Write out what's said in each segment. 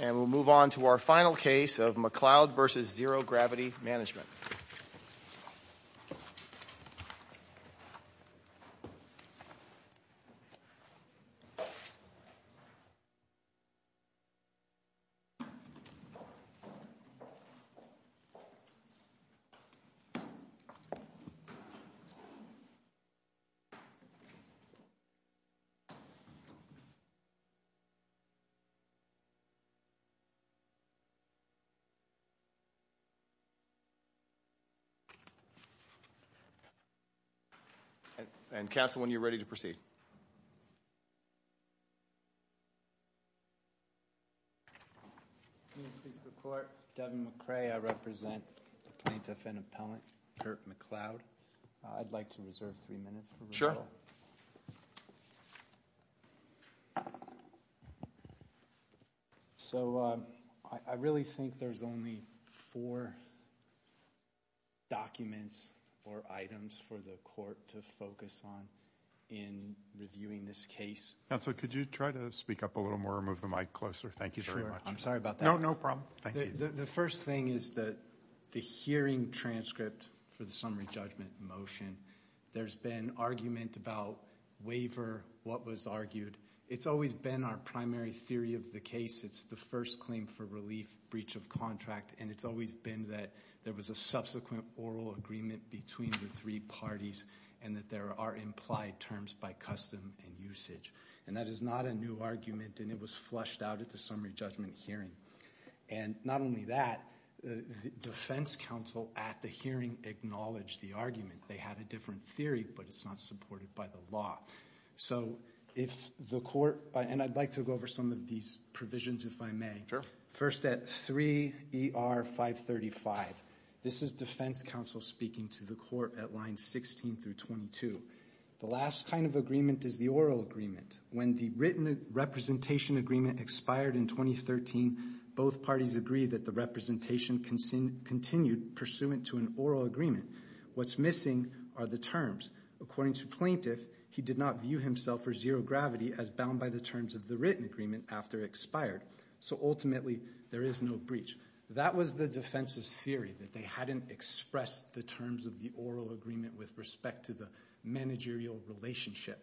And we'll move on to our final case of McLeod v. Zero Gravity Management. And counsel, when you're ready to proceed. Devin McRae, I represent plaintiff and appellant Kirk McLeod. I'd like to reserve three minutes. Sure. So I really think there's only four documents or items for the court to focus on in reviewing this case. Counsel, could you try to speak up a little more, move the mic closer? Thank you very much. Sure, I'm sorry about that. No, no problem. Thank you. The first thing is the hearing transcript for the summary judgment motion. There's been argument about waiver, what was argued. It's always been our primary theory of the case. It's the first claim for relief, breach of contract. And it's always been that there was a subsequent oral agreement between the three parties and that there are implied terms by custom and usage. And that is not a new argument and it was flushed out at the summary judgment hearing. And not only that, the defense counsel at the hearing acknowledged the argument. They had a different theory, but it's not supported by the law. So if the court, and I'd like to go over some of these provisions if I may. First at 3 ER 535. This is defense counsel speaking to the court at lines 16 through 22. The last kind of agreement is the oral agreement. When the written representation agreement expired in 2013, both parties agreed that the representation continued pursuant to an oral agreement. What's missing are the terms. According to plaintiff, he did not view himself for zero gravity as bound by the terms of the written agreement after it expired. So ultimately, there is no breach. That was the defense's theory, that they hadn't expressed the terms of the oral agreement with respect to the managerial relationship.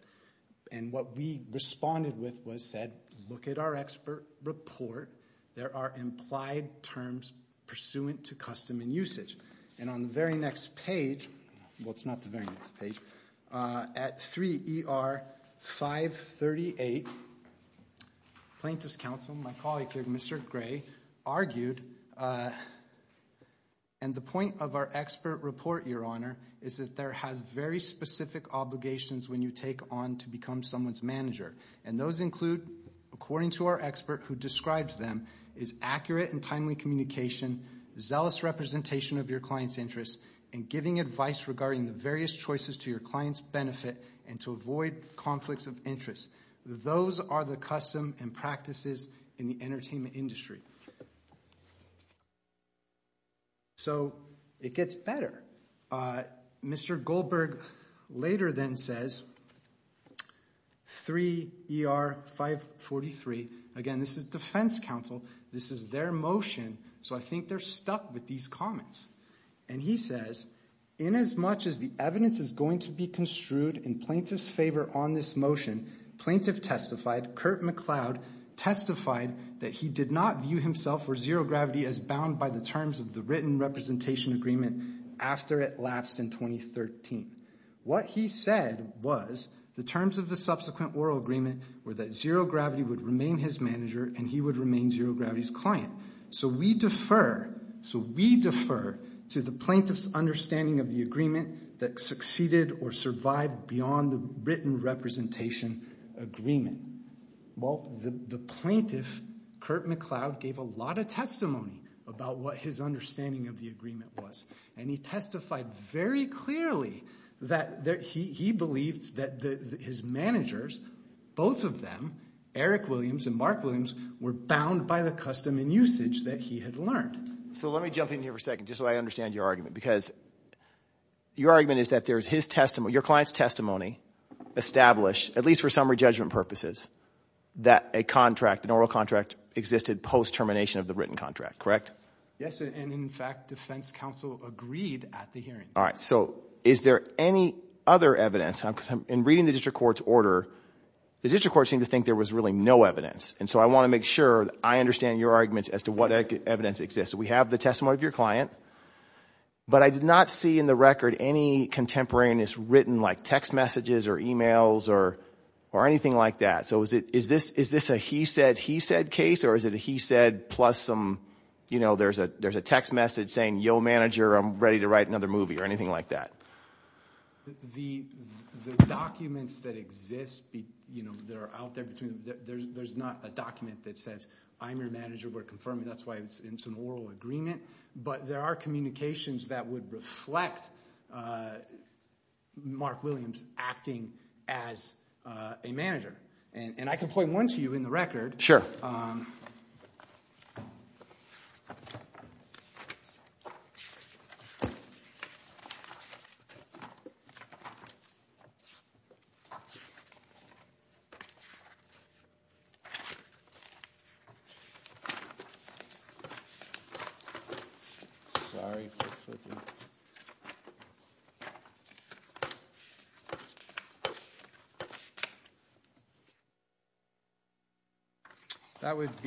And what we responded with was said, look at our expert report. There are implied terms pursuant to custom and usage. And on the very next page, well, it's not the very next page. At 3 ER 538, plaintiff's counsel, my colleague here, Mr. Gray, argued, and the point of our expert report, Your Honor, is that there has very specific obligations when you take on to become someone's manager. And those include, according to our expert who describes them, is accurate and timely communication, zealous representation of your client's interests, and giving advice regarding the various choices to your client's benefit and to avoid conflicts of interest. Those are the custom and practices in the entertainment industry. So it gets better. Mr. Goldberg later then says, 3 ER 543, again, this is defense counsel. This is their motion, so I think they're stuck with these comments. And he says, inasmuch as the evidence is going to be construed in plaintiff's favor on this motion, plaintiff testified, Kurt McCloud testified that he did not view himself or Zero Gravity as bound by the terms of the written representation agreement after it lapsed in 2013. What he said was the terms of the subsequent oral agreement were that Zero Gravity would remain his manager and he would remain Zero Gravity's client. So we defer, so we defer to the plaintiff's understanding of the agreement that succeeded or survived beyond the written representation agreement. Well, the plaintiff, Kurt McCloud, gave a lot of testimony about what his understanding of the agreement was. And he testified very clearly that he believed that his managers, both of them, Eric Williams and Mark Williams, were bound by the custom and usage that he had learned. So let me jump in here for a second just so I understand your argument, because your argument is that there is his testimony, your client's testimony, established, at least for summary judgment purposes, that a contract, an oral contract, existed post-termination of the written contract, correct? Yes, and in fact defense counsel agreed at the hearing. All right, so is there any other evidence? In reading the district court's order, the district court seemed to think there was really no evidence. And so I want to make sure that I understand your arguments as to what evidence exists. We have the testimony of your client, but I did not see in the record any contemporaneous written, like text messages or e-mails or anything like that. So is this a he said, he said case, or is it a he said plus some, you know, there's a text message saying, yo, manager, I'm ready to write another movie or anything like that? The documents that exist, you know, that are out there, there's not a document that says I'm your manager, we're confirming, that's why it's an oral agreement. But there are communications that would reflect Mark Williams acting as a manager. And I can point one to you in the record. Sure. Sorry. Thank you. Thank you. Thank you.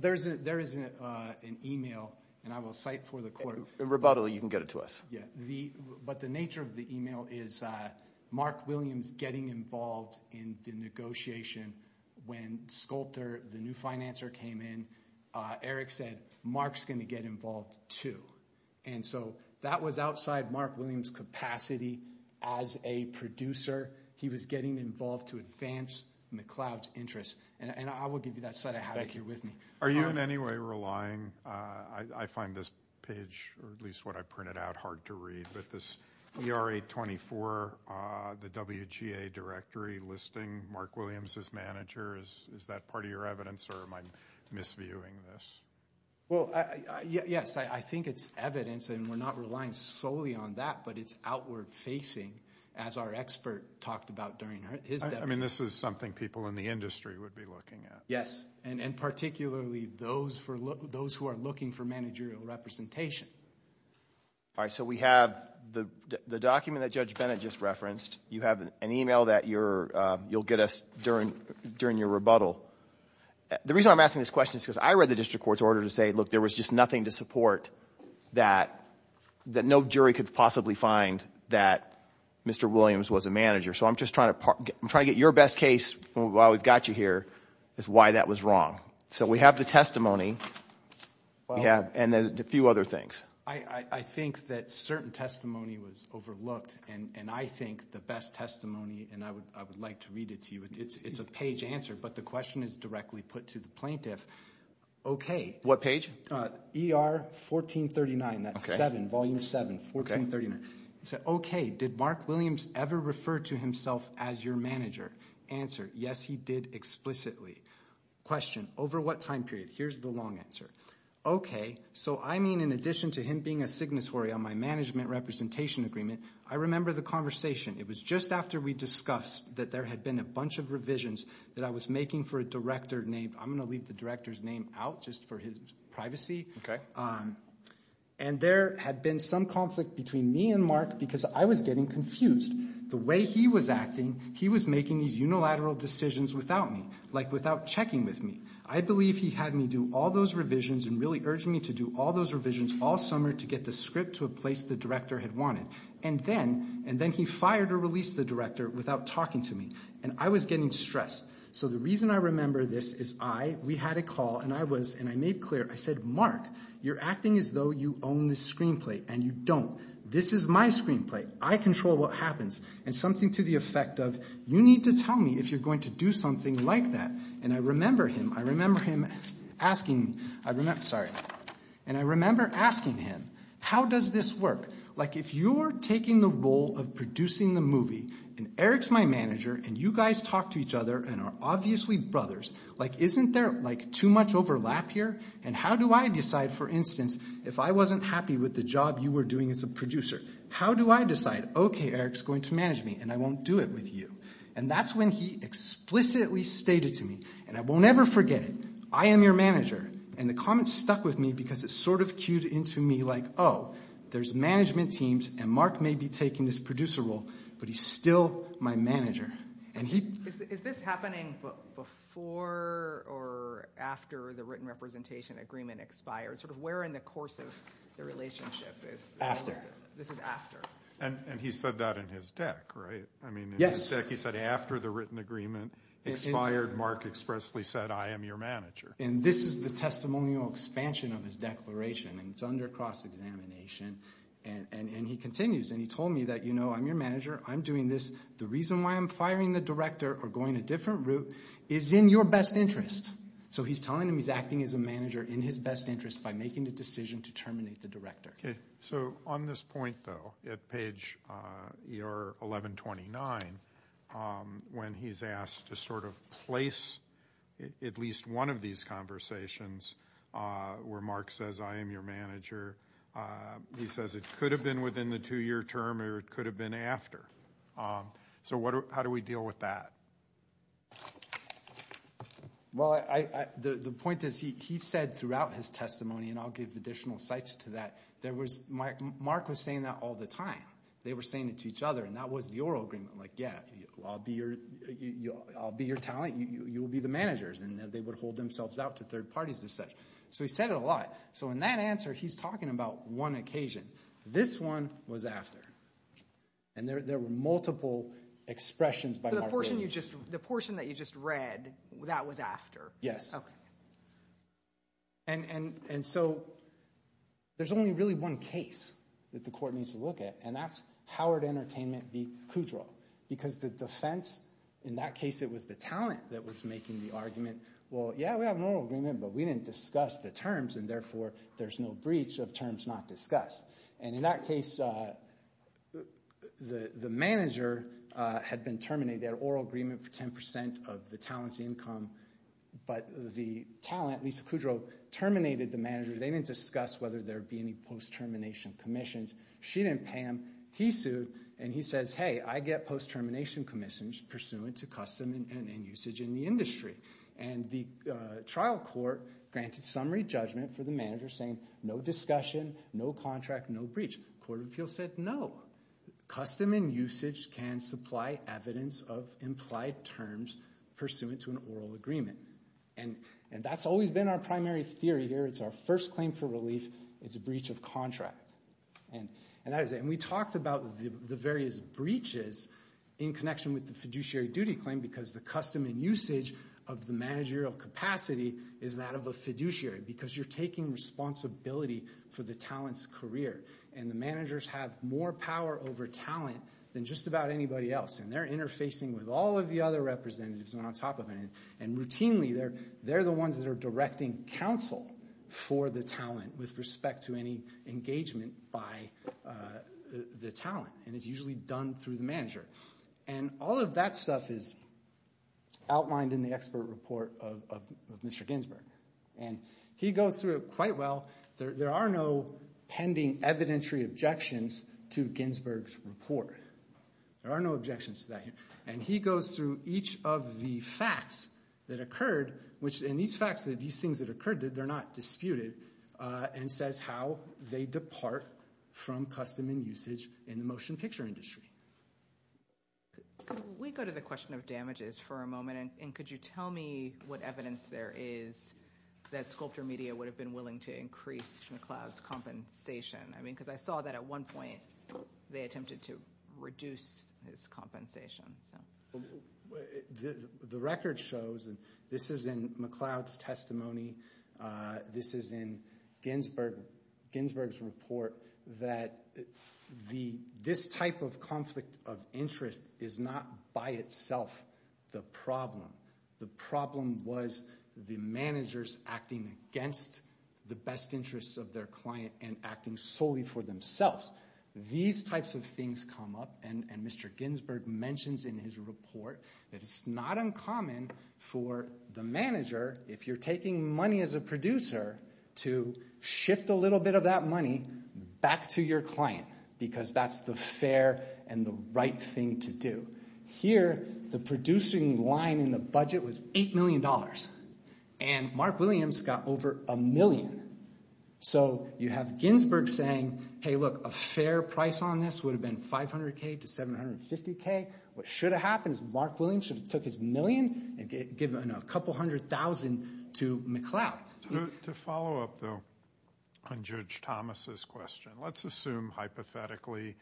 There is an e-mail, and I will cite for the court. Rebuttally, you can get it to us. Yeah. But the nature of the e-mail is Mark Williams getting involved in the negotiation. When Sculptor, the new financer, came in, Eric said, Mark's going to get involved, too. And so that was outside Mark Williams' capacity as a producer. He was getting involved to advance McLeod's interests. And I will give you that set of how-to here with me. Are you in any way relying, I find this page, or at least what I printed out, hard to read, but this ERA 24, the WGA directory listing Mark Williams as manager, is that part of your evidence, or am I misviewing this? Well, yes, I think it's evidence, and we're not relying solely on that, but it's outward facing, as our expert talked about during his debate. I mean, this is something people in the industry would be looking at. Yes, and particularly those who are looking for managerial representation. All right. So we have the document that Judge Bennett just referenced. You have an e-mail that you'll get us during your rebuttal. The reason I'm asking this question is because I read the district court's order to say, look, there was just nothing to support that no jury could possibly find that Mr. Williams was a manager. So I'm just trying to get your best case while we've got you here is why that was wrong. So we have the testimony, and a few other things. I think that certain testimony was overlooked, and I think the best testimony, and I would like to read it to you. It's a page answer, but the question is directly put to the plaintiff. Okay. What page? ER 1439. That's 7, Volume 7, 1439. He said, okay, did Mark Williams ever refer to himself as your manager? Answer, yes, he did explicitly. Question, over what time period? Here's the long answer. Okay, so I mean in addition to him being a signatory on my management representation agreement, I remember the conversation. It was just after we discussed that there had been a bunch of revisions that I was making for a director named, I'm going to leave the director's name out just for his privacy. And there had been some conflict between me and Mark because I was getting confused. The way he was acting, he was making these unilateral decisions without me, like without checking with me. I believe he had me do all those revisions and really urged me to do all those revisions all summer to get the script to a place the director had wanted. And then he fired or released the director without talking to me, and I was getting stressed. So the reason I remember this is I, we had a call, and I was, and I made clear. I said, Mark, you're acting as though you own this screenplay, and you don't. This is my screenplay. I control what happens. And something to the effect of, you need to tell me if you're going to do something like that. And I remember him, I remember him asking, I remember, sorry. And I remember asking him, how does this work? Like if you're taking the role of producing the movie, and Eric's my manager, and you guys talk to each other and are obviously brothers, like isn't there like too much overlap here? And how do I decide, for instance, if I wasn't happy with the job you were doing as a producer, how do I decide, okay, Eric's going to manage me, and I won't do it with you? And that's when he explicitly stated to me, and I won't ever forget it, I am your manager. And the comments stuck with me because it sort of cued into me like, oh, there's management teams, and Mark may be taking this producer role, but he's still my manager. Is this happening before or after the written representation agreement expired? Sort of where in the course of the relationship is this? This is after. And he said that in his deck, right? Yes. I mean in his deck he said after the written agreement expired, Mark expressly said, I am your manager. And this is the testimonial expansion of his declaration, and it's under cross-examination, and he continues, and he told me that, you know, I'm your manager. I'm doing this. The reason why I'm firing the director or going a different route is in your best interest. So he's telling him he's acting as a manager in his best interest by making the decision to terminate the director. Okay. So on this point, though, at page 1129, when he's asked to sort of place at least one of these conversations where Mark says, I am your manager, he says it could have been within the two-year term or it could have been after. So how do we deal with that? Well, the point is he said throughout his testimony, and I'll give additional sites to that, Mark was saying that all the time. They were saying it to each other, and that was the oral agreement, like, yeah, I'll be your talent. You will be the managers, and they would hold themselves out to third parties and such. So he said it a lot. So in that answer, he's talking about one occasion. This one was after, and there were multiple expressions by Mark Williams. The portion that you just read, that was after? Yes. Okay. And so there's only really one case that the court needs to look at, and that's Howard Entertainment v. Kudrow, because the defense in that case, it was the talent that was making the argument, well, yeah, we have an oral agreement, but we didn't discuss the terms, and therefore there's no breach of terms not discussed. And in that case, the manager had been terminated. They had an oral agreement for 10% of the talent's income, but the talent, Lisa Kudrow, terminated the manager. They didn't discuss whether there would be any post-termination commissions. She didn't pay him. He sued, and he says, hey, I get post-termination commissions pursuant to custom and usage in the industry. And the trial court granted summary judgment for the manager saying no discussion, no contract, no breach. Court of Appeals said no. Custom and usage can supply evidence of implied terms pursuant to an oral agreement. And that's always been our primary theory here. It's our first claim for relief. It's a breach of contract. And we talked about the various breaches in connection with the fiduciary duty claim because the custom and usage of the managerial capacity is that of a fiduciary because you're taking responsibility for the talent's career. And the managers have more power over talent than just about anybody else. And they're interfacing with all of the other representatives on top of it. And routinely, they're the ones that are directing counsel for the talent with respect to any engagement by the talent. And it's usually done through the manager. And all of that stuff is outlined in the expert report of Mr. Ginsburg. And he goes through it quite well. There are no pending evidentiary objections to Ginsburg's report. There are no objections to that. And he goes through each of the facts that occurred, and these facts, these things that occurred, they're not disputed, and says how they depart from custom and usage in the motion picture industry. We go to the question of damages for a moment. And could you tell me what evidence there is that Sculptor Media would have been willing to increase McLeod's compensation? I mean, because I saw that at one point they attempted to reduce his compensation. The record shows, and this is in McLeod's testimony. This is in Ginsburg's report that this type of conflict of interest is not by itself the problem. The problem was the managers acting against the best interests of their client and acting solely for themselves. These types of things come up, and Mr. Ginsburg mentions in his report that it's not uncommon for the manager, if you're taking money as a producer, to shift a little bit of that money back to your client because that's the fair and the right thing to do. Here, the producing line in the budget was $8 million, and Mark Williams got over a million. So you have Ginsburg saying, hey, look, a fair price on this would have been $500K to $750K. What should have happened is Mark Williams should have took his million and given a couple hundred thousand to McLeod. To follow up, though, on Judge Thomas' question, let's assume hypothetically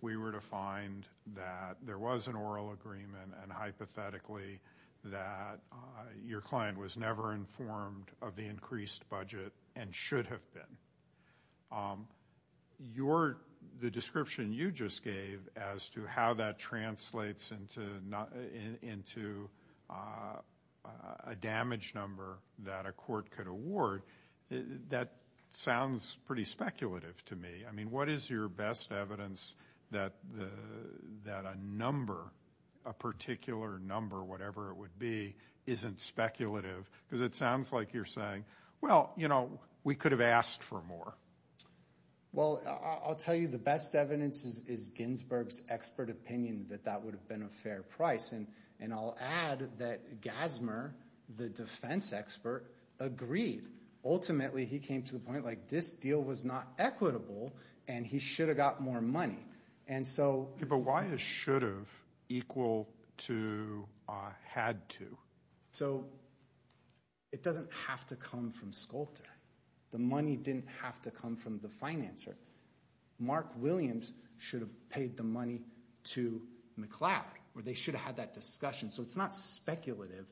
we were to find that there was an oral agreement and hypothetically that your client was never informed of the increased budget and should have been. The description you just gave as to how that translates into a damage number that a court could award, that sounds pretty speculative to me. I mean, what is your best evidence that a number, a particular number, whatever it would be, isn't speculative? Because it sounds like you're saying, well, you know, we could have asked for more. Well, I'll tell you the best evidence is Ginsburg's expert opinion that that would have been a fair price. And I'll add that Gasmer, the defense expert, agreed. Ultimately, he came to the point like this deal was not equitable and he should have got more money. But why is should have equal to had to? So it doesn't have to come from Sculptor. The money didn't have to come from the financer. Mark Williams should have paid the money to McLeod or they should have had that discussion. So it's not speculative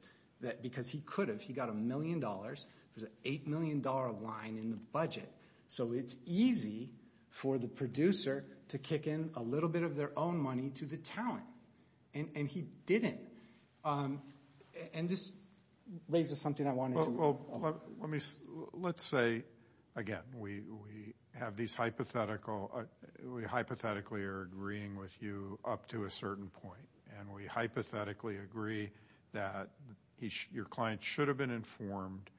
because he could have. He got a million dollars. There's an $8 million line in the budget. So it's easy for the producer to kick in a little bit of their own money to the talent, and he didn't. And this raises something I wanted to. Let's say, again, we have these hypothetical. We hypothetically are agreeing with you up to a certain point. And we hypothetically agree that your client should have been informed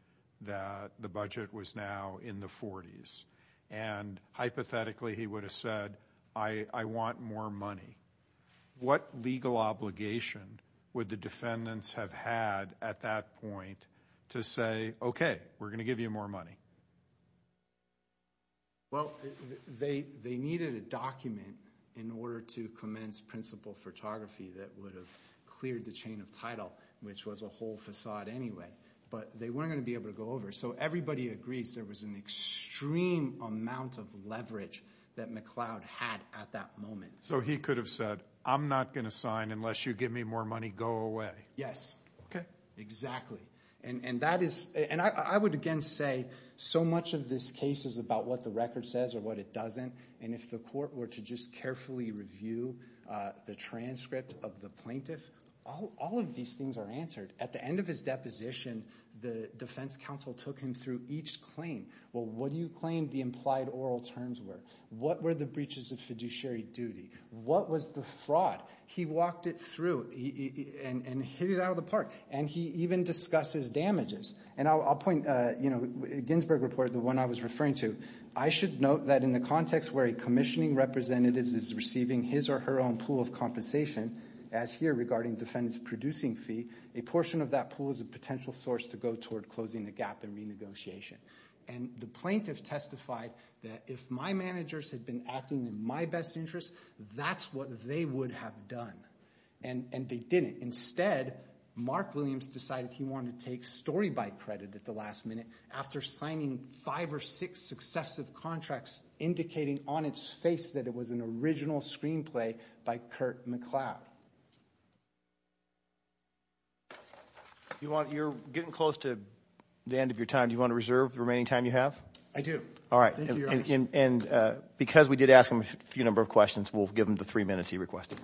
that the budget was now in the 40s. And hypothetically, he would have said, I want more money. What legal obligation would the defendants have had at that point to say, okay, we're going to give you more money? Well, they needed a document in order to commence principal photography that would have cleared the chain of title, which was a whole facade anyway. But they weren't going to be able to go over. So everybody agrees there was an extreme amount of leverage that McLeod had at that moment. So he could have said, I'm not going to sign unless you give me more money. Go away. Yes. Exactly. And I would, again, say so much of this case is about what the record says or what it doesn't. And if the court were to just carefully review the transcript of the plaintiff, all of these things are answered. At the end of his deposition, the defense counsel took him through each claim. Well, what do you claim the implied oral terms were? What were the breaches of fiduciary duty? What was the fraud? He walked it through and hit it out of the park. And he even discussed his damages. And I'll point, you know, Ginsburg reported the one I was referring to. I should note that in the context where a commissioning representative is receiving his or her own pool of compensation, as here regarding defendant's producing fee, a portion of that pool is a potential source to go toward closing the gap in renegotiation. And the plaintiff testified that if my managers had been acting in my best interest, that's what they would have done. And they didn't. Instead, Mark Williams decided he wanted to take story by credit at the last minute after signing five or six successive contracts indicating on its face that it was an original screenplay by Kurt McCloud. You're getting close to the end of your time. Do you want to reserve the remaining time you have? I do. All right. And because we did ask him a few number of questions, we'll give him the three minutes he requested.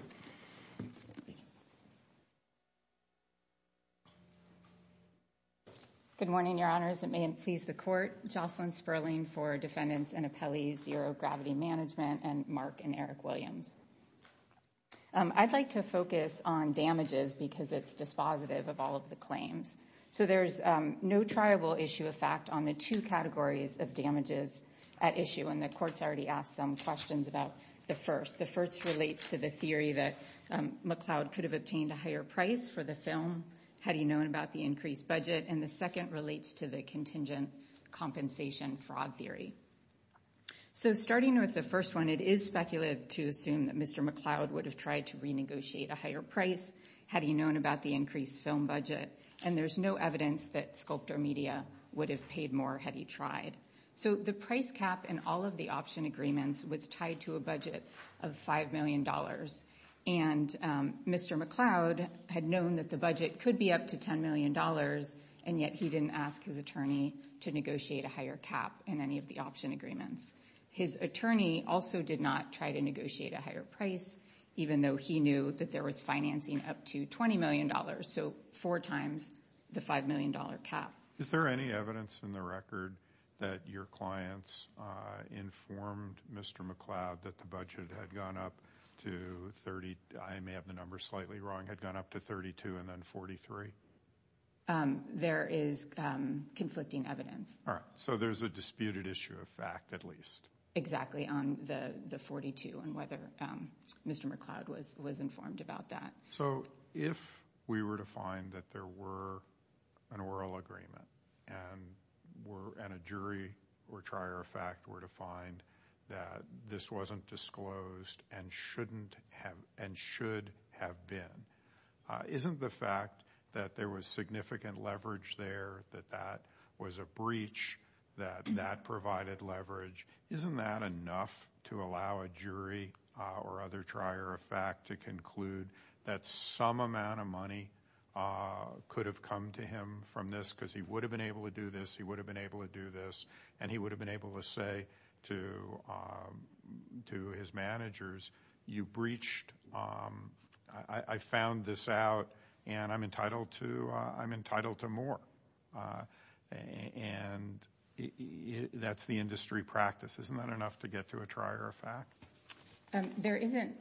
Good morning, Your Honors. It may please the court. Jocelyn Sperling for Defendants and Appellees, Euro Gravity Management, and Mark and Eric Williams. I'd like to focus on damages because it's dispositive of all of the claims. So there's no triable issue of fact on the two categories of damages at issue, and the court's already asked some questions about the first. The first relates to the theory that McCloud could have obtained a higher price for the film had he known about the increased budget, and the second relates to the contingent compensation fraud theory. So starting with the first one, it is speculative to assume that Mr. McCloud would have tried to renegotiate a higher price had he known about the increased film budget, and there's no evidence that Sculptor Media would have paid more had he tried. So the price cap in all of the option agreements was tied to a budget of $5 million, and Mr. McCloud had known that the budget could be up to $10 million, and yet he didn't ask his attorney to negotiate a higher cap in any of the option agreements. His attorney also did not try to negotiate a higher price, even though he knew that there was financing up to $20 million, so four times the $5 million cap. Is there any evidence in the record that your clients informed Mr. McCloud that the budget had gone up to 30? I may have the number slightly wrong, had gone up to 32 and then 43? There is conflicting evidence. All right, so there's a disputed issue of fact at least. Exactly, on the 42 and whether Mr. McCloud was informed about that. So if we were to find that there were an oral agreement and a jury or trier of fact were to find that this wasn't disclosed and should have been, isn't the fact that there was significant leverage there, that that was a breach, that that provided leverage, isn't that enough to allow a jury or other trier of fact to conclude that some amount of money could have come to him from this because he would have been able to do this, he would have been able to do this, and he would have been able to say to his managers, you breached, I found this out, and I'm entitled to more. And that's the industry practice. Isn't that enough to get to a trier of fact? There isn't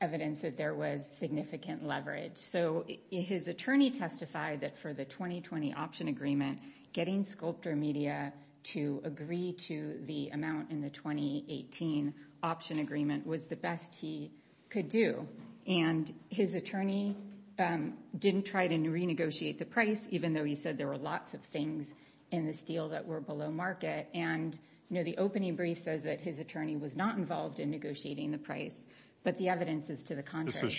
evidence that there was significant leverage. So his attorney testified that for the 2020 option agreement, getting Sculptor Media to agree to the amount in the 2018 option agreement was the best he could do. And his attorney didn't try to renegotiate the price, even though he said there were lots of things in this deal that were below market. And the opening brief says that his attorney was not involved in negotiating the price, but the evidence is to the contrary.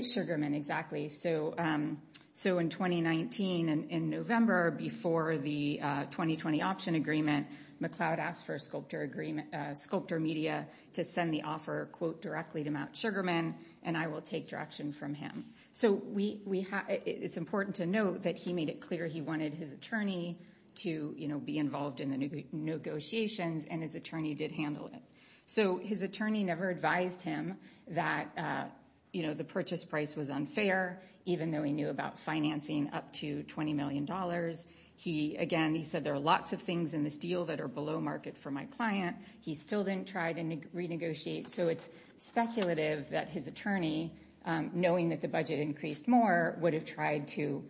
Sugarman, exactly. So in 2019, in November, before the 2020 option agreement, McLeod asked for Sculptor Media to send the offer, quote, directly to Matt Sugarman, and I will take direction from him. So it's important to note that he made it clear he wanted his attorney to be involved in the negotiations, and his attorney did handle it. So his attorney never advised him that the purchase price was unfair, even though he knew about financing up to $20 million. Again, he said there are lots of things in this deal that are below market for my client. He still didn't try to renegotiate. So it's speculative that his attorney, knowing that the budget increased more, would have tried to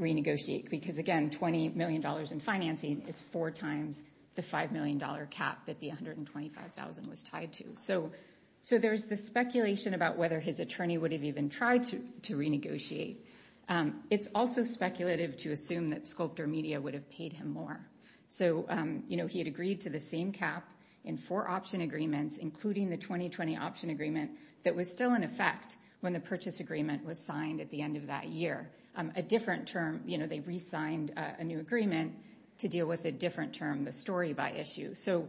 renegotiate because, again, $20 million in financing is four times the $5 million cap that the $125,000 was tied to. So there's the speculation about whether his attorney would have even tried to renegotiate. It's also speculative to assume that Sculptor Media would have paid him more. So, you know, he had agreed to the same cap in four option agreements, including the 2020 option agreement, that was still in effect when the purchase agreement was signed at the end of that year. A different term, you know, they re-signed a new agreement to deal with a different term, the story by issue. So,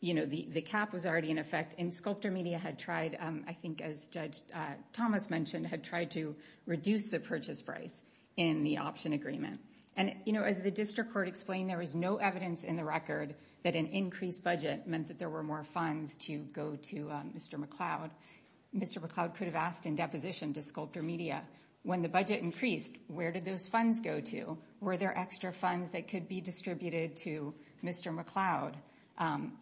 you know, the cap was already in effect, and Sculptor Media had tried, I think as Judge Thomas mentioned, had tried to reduce the purchase price in the option agreement. And, you know, as the district court explained, there was no evidence in the record that an increased budget meant that there were more funds to go to Mr. McLeod. Mr. McLeod could have asked in deposition to Sculptor Media, when the budget increased, where did those funds go to? Were there extra funds that could be distributed to Mr. McLeod?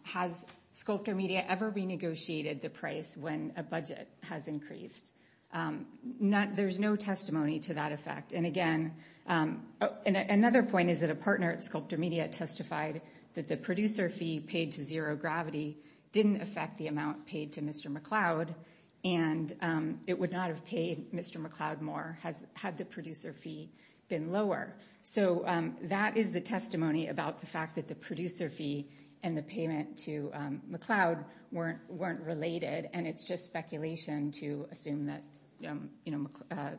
Has Sculptor Media ever renegotiated the price when a budget has increased? There's no testimony to that effect. And again, another point is that a partner at Sculptor Media testified that the producer fee paid to Zero Gravity didn't affect the amount paid to Mr. McLeod, and it would not have paid Mr. McLeod more had the producer fee been lower. So that is the testimony about the fact that the producer fee and the payment to McLeod weren't related, and it's just speculation to assume that, you know,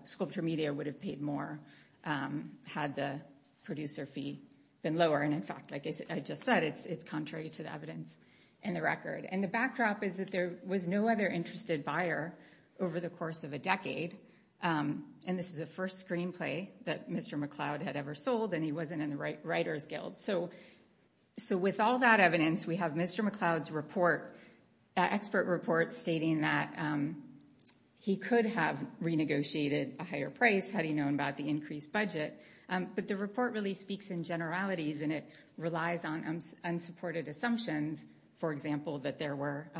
Sculptor Media would have paid more had the producer fee been lower. And in fact, like I just said, it's contrary to the evidence in the record. And the backdrop is that there was no other interested buyer over the course of a decade. And this is the first screenplay that Mr. McLeod had ever sold, and he wasn't in the Writer's Guild. So with all that evidence, we have Mr. McLeod's report, expert report, stating that he could have renegotiated a higher price had he known about the increased budget. But the report really speaks in generalities, and it relies on unsupported assumptions, for example, that there were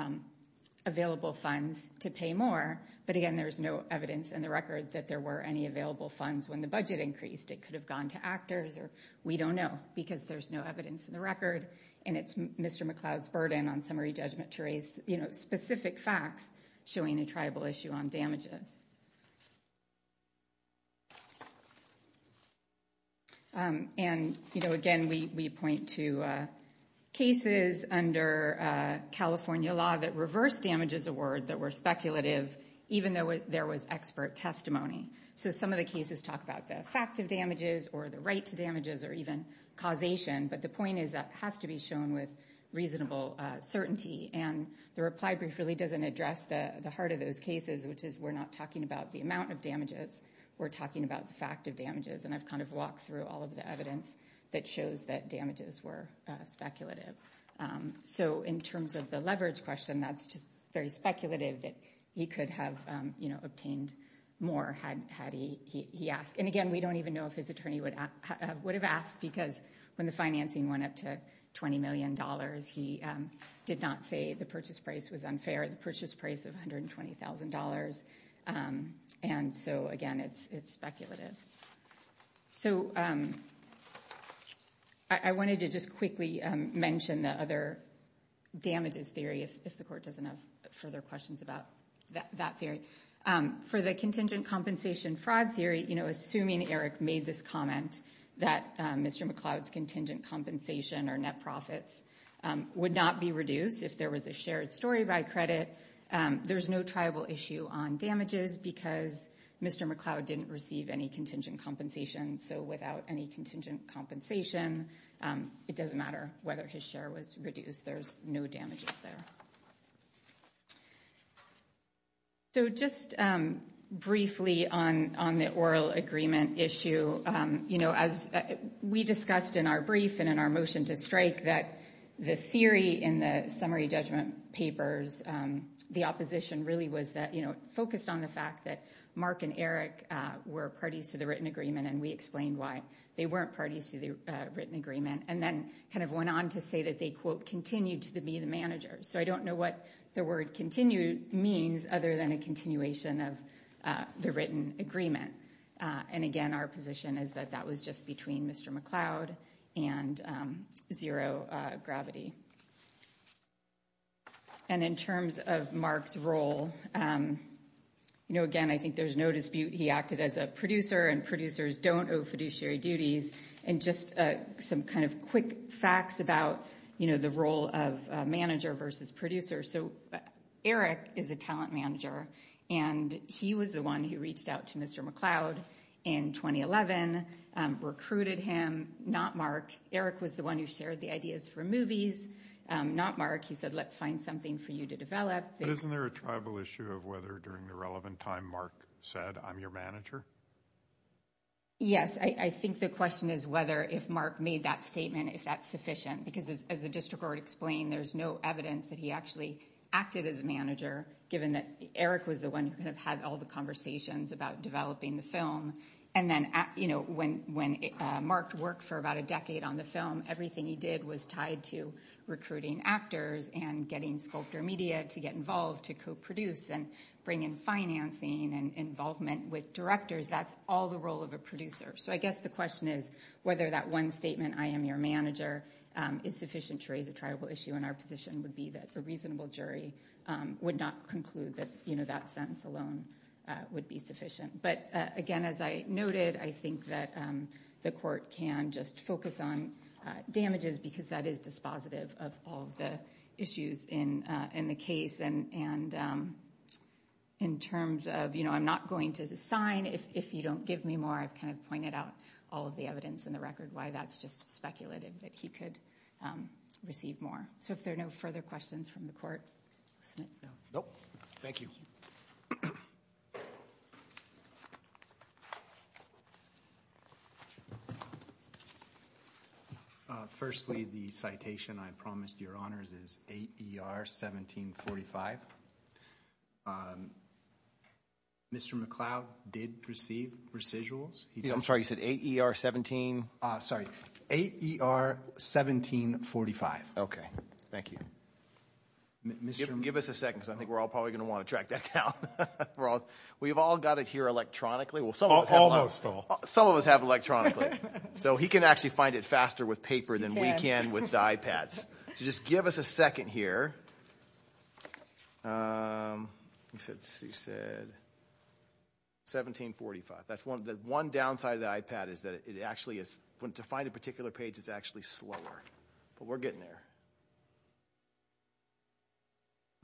available funds to pay more. But again, there's no evidence in the record that there were any available funds when the budget increased. It could have gone to actors, or we don't know, because there's no evidence in the record. And it's Mr. McLeod's burden on summary judgment to raise, you know, specific facts showing a tribal issue on damages. And, you know, again, we point to cases under California law that reversed damages award that were speculative, even though there was expert testimony. So some of the cases talk about the effect of damages or the right to damages or even causation. But the point is that it has to be shown with reasonable certainty. And the reply brief really doesn't address the heart of those cases, which is we're not talking about the amount of damages. We're talking about the fact of damages. And I've kind of walked through all of the evidence that shows that damages were speculative. So in terms of the leverage question, that's just very speculative that he could have, you know, obtained more had he asked. And again, we don't even know if his attorney would have asked, because when the financing went up to $20 million, he did not say the purchase price was unfair, the purchase price of $120,000. And so, again, it's speculative. So I wanted to just quickly mention the other damages theory, if the court doesn't have further questions about that theory. For the contingent compensation fraud theory, you know, assuming Eric made this comment that Mr. McLeod's contingent compensation or net profits would not be reduced if there was a shared story by credit, there's no tribal issue on damages because Mr. McLeod didn't receive any contingent compensation. So without any contingent compensation, it doesn't matter whether his share was reduced. There's no damages there. So just briefly on the oral agreement issue, you know, as we discussed in our brief and in our motion to strike that the theory in the summary judgment papers, the opposition really was that, you know, focused on the fact that Mark and Eric were parties to the written agreement, and we explained why they weren't parties to the written agreement, and then kind of went on to say that they, quote, continued to be the manager. So I don't know what the word continued means other than a continuation of the written agreement. And, again, our position is that that was just between Mr. McLeod and zero gravity. And in terms of Mark's role, you know, again, I think there's no dispute he acted as a producer, and producers don't owe fiduciary duties. And just some kind of quick facts about, you know, the role of manager versus producer. So Eric is a talent manager, and he was the one who reached out to Mr. McLeod in 2011, recruited him, not Mark. Eric was the one who shared the ideas for movies, not Mark. He said, let's find something for you to develop. But isn't there a tribal issue of whether during the relevant time Mark said, I'm your manager? Yes, I think the question is whether if Mark made that statement, if that's sufficient. Because as the district court explained, there's no evidence that he actually acted as a manager, given that Eric was the one who kind of had all the conversations about developing the film. And then, you know, when Mark worked for about a decade on the film, everything he did was tied to recruiting actors and getting sculptor media to get involved to co-produce and bring in financing and involvement with directors. That's all the role of a producer. So I guess the question is whether that one statement, I am your manager, is sufficient to raise a tribal issue. And our position would be that a reasonable jury would not conclude that, you know, that sentence alone would be sufficient. But again, as I noted, I think that the court can just focus on damages, because that is dispositive of all of the issues in the case. And in terms of, you know, I'm not going to sign if you don't give me more, I've kind of pointed out all of the evidence in the record why that's just speculative, that he could receive more. So if there are no further questions from the court. Nope. Thank you. Firstly, the citation I promised your honors is 8 E.R. 1745. Mr. McLeod did receive residuals. I'm sorry, you said 8 E.R. 17? Sorry, 8 E.R. 1745. Okay. Thank you. Give us a second, because I think we're all probably going to want to track that down. We've all got it here electronically. Almost all. Some of us have electronically. So he can actually find it faster with paper than we can with the iPads. So just give us a second here. You said 1745. That's one downside of the iPad is that it actually is, to find a particular page, it's actually slower. But we're getting there.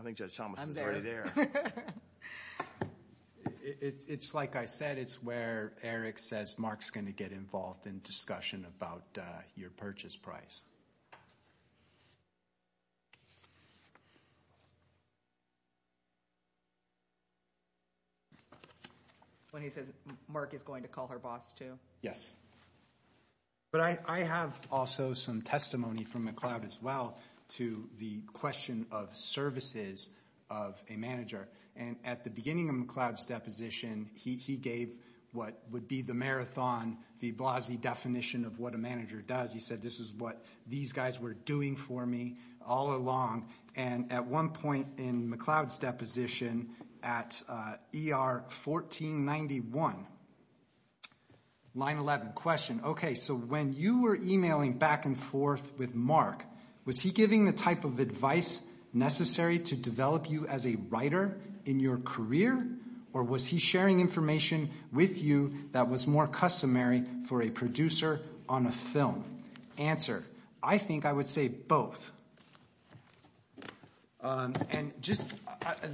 I think Judge Thomas is already there. It's like I said, it's where Eric says Mark's going to get involved in discussion about your purchase price. When he says Mark is going to call her boss too? Yes. But I have also some testimony from McLeod as well to the question of services of a manager. And at the beginning of McLeod's deposition, he gave what would be the Marathon v. Blasi definition of what a manager does. He said this is what these guys were doing for me all along. And at one point in McLeod's deposition at ER 1491, line 11, question. Okay, so when you were emailing back and forth with Mark, was he giving the type of advice necessary to develop you as a writer in your career? Or was he sharing information with you that was more customary for a producer on a film? Answer. I think I would say both. And just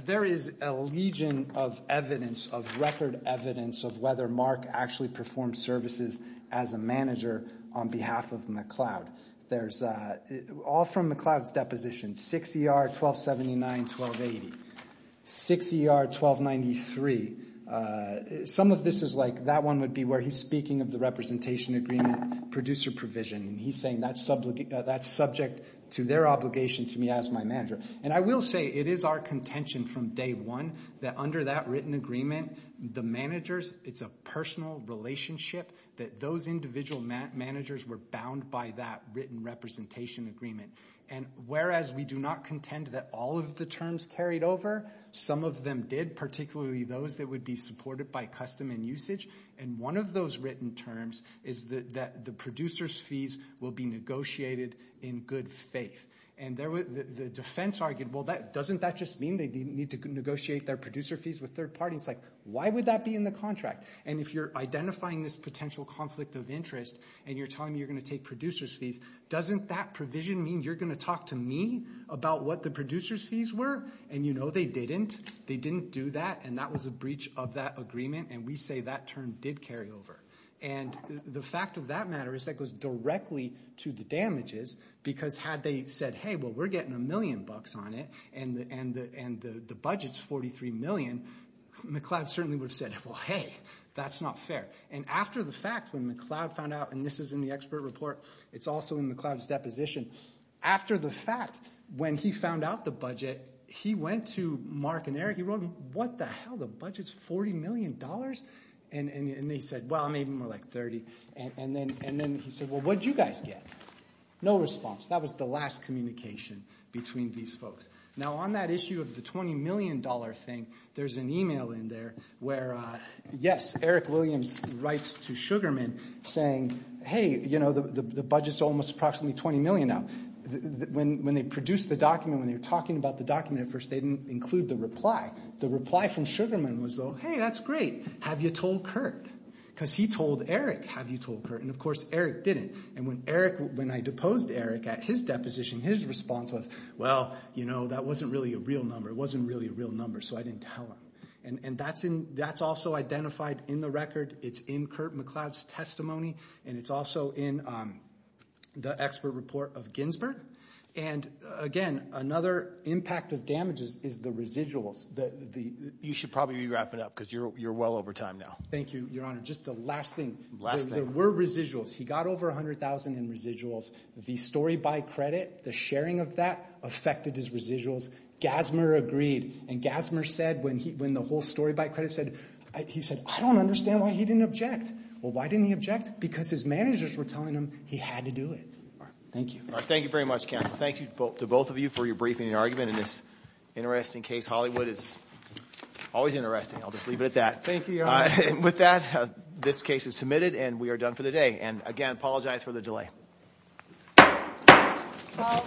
there is a legion of evidence, of record evidence, of whether Mark actually performed services as a manager on behalf of McLeod. There's all from McLeod's deposition, 6 ER 1279-1280, 6 ER 1293. Some of this is like that one would be where he's speaking of the representation agreement producer provision. And he's saying that's subject to their obligation to me as my manager. And I will say it is our contention from day one that under that written agreement, the managers, it's a personal relationship that those individual managers were bound by that written representation agreement. And whereas we do not contend that all of the terms carried over, some of them did, particularly those that would be supported by custom and usage. And one of those written terms is that the producer's fees will be negotiated in good faith. And the defense argued, well, doesn't that just mean they need to negotiate their producer fees with third parties? Like, why would that be in the contract? And if you're identifying this potential conflict of interest and you're telling me you're going to take producer's fees, doesn't that provision mean you're going to talk to me about what the producer's fees were? And you know they didn't. They didn't do that. And that was a breach of that agreement. And we say that term did carry over. And the fact of that matter is that goes directly to the damages. Because had they said, hey, well, we're getting a million bucks on it and the budget's $43 million, McCloud certainly would have said, well, hey, that's not fair. And after the fact, when McCloud found out, and this is in the expert report. It's also in McCloud's deposition. After the fact, when he found out the budget, he went to Mark and Eric. He wrote him, what the hell? The budget's $40 million? And they said, well, maybe more like $30. And then he said, well, what did you guys get? No response. That was the last communication between these folks. Now, on that issue of the $20 million thing, there's an email in there where, yes, Eric Williams writes to Sugarman saying, hey, you know, the budget's almost approximately $20 million now. When they produced the document, when they were talking about the document at first, they didn't include the reply. The reply from Sugarman was, oh, hey, that's great. Have you told Curt? Because he told Eric, have you told Curt? And, of course, Eric didn't. And when Eric, when I deposed Eric at his deposition, his response was, well, you know, that wasn't really a real number. It wasn't really a real number, so I didn't tell him. And that's also identified in the record. It's in Curt McCloud's testimony. And it's also in the expert report of Ginsburg. And, again, another impact of damages is the residuals. You should probably wrap it up because you're well over time now. Thank you, Your Honor. Just the last thing. Last thing. There were residuals. He got over $100,000 in residuals. The story by credit, the sharing of that affected his residuals. Gassmer agreed. And Gassmer said when the whole story by credit said, he said, I don't understand why he didn't object. Well, why didn't he object? Because his managers were telling him he had to do it. Thank you. Thank you very much, counsel. Thank you to both of you for your briefing and argument. And this interesting case, Hollywood, is always interesting. I'll just leave it at that. Thank you, Your Honor. With that, this case is submitted and we are done for the day. And, again, I apologize for the delay. All rise.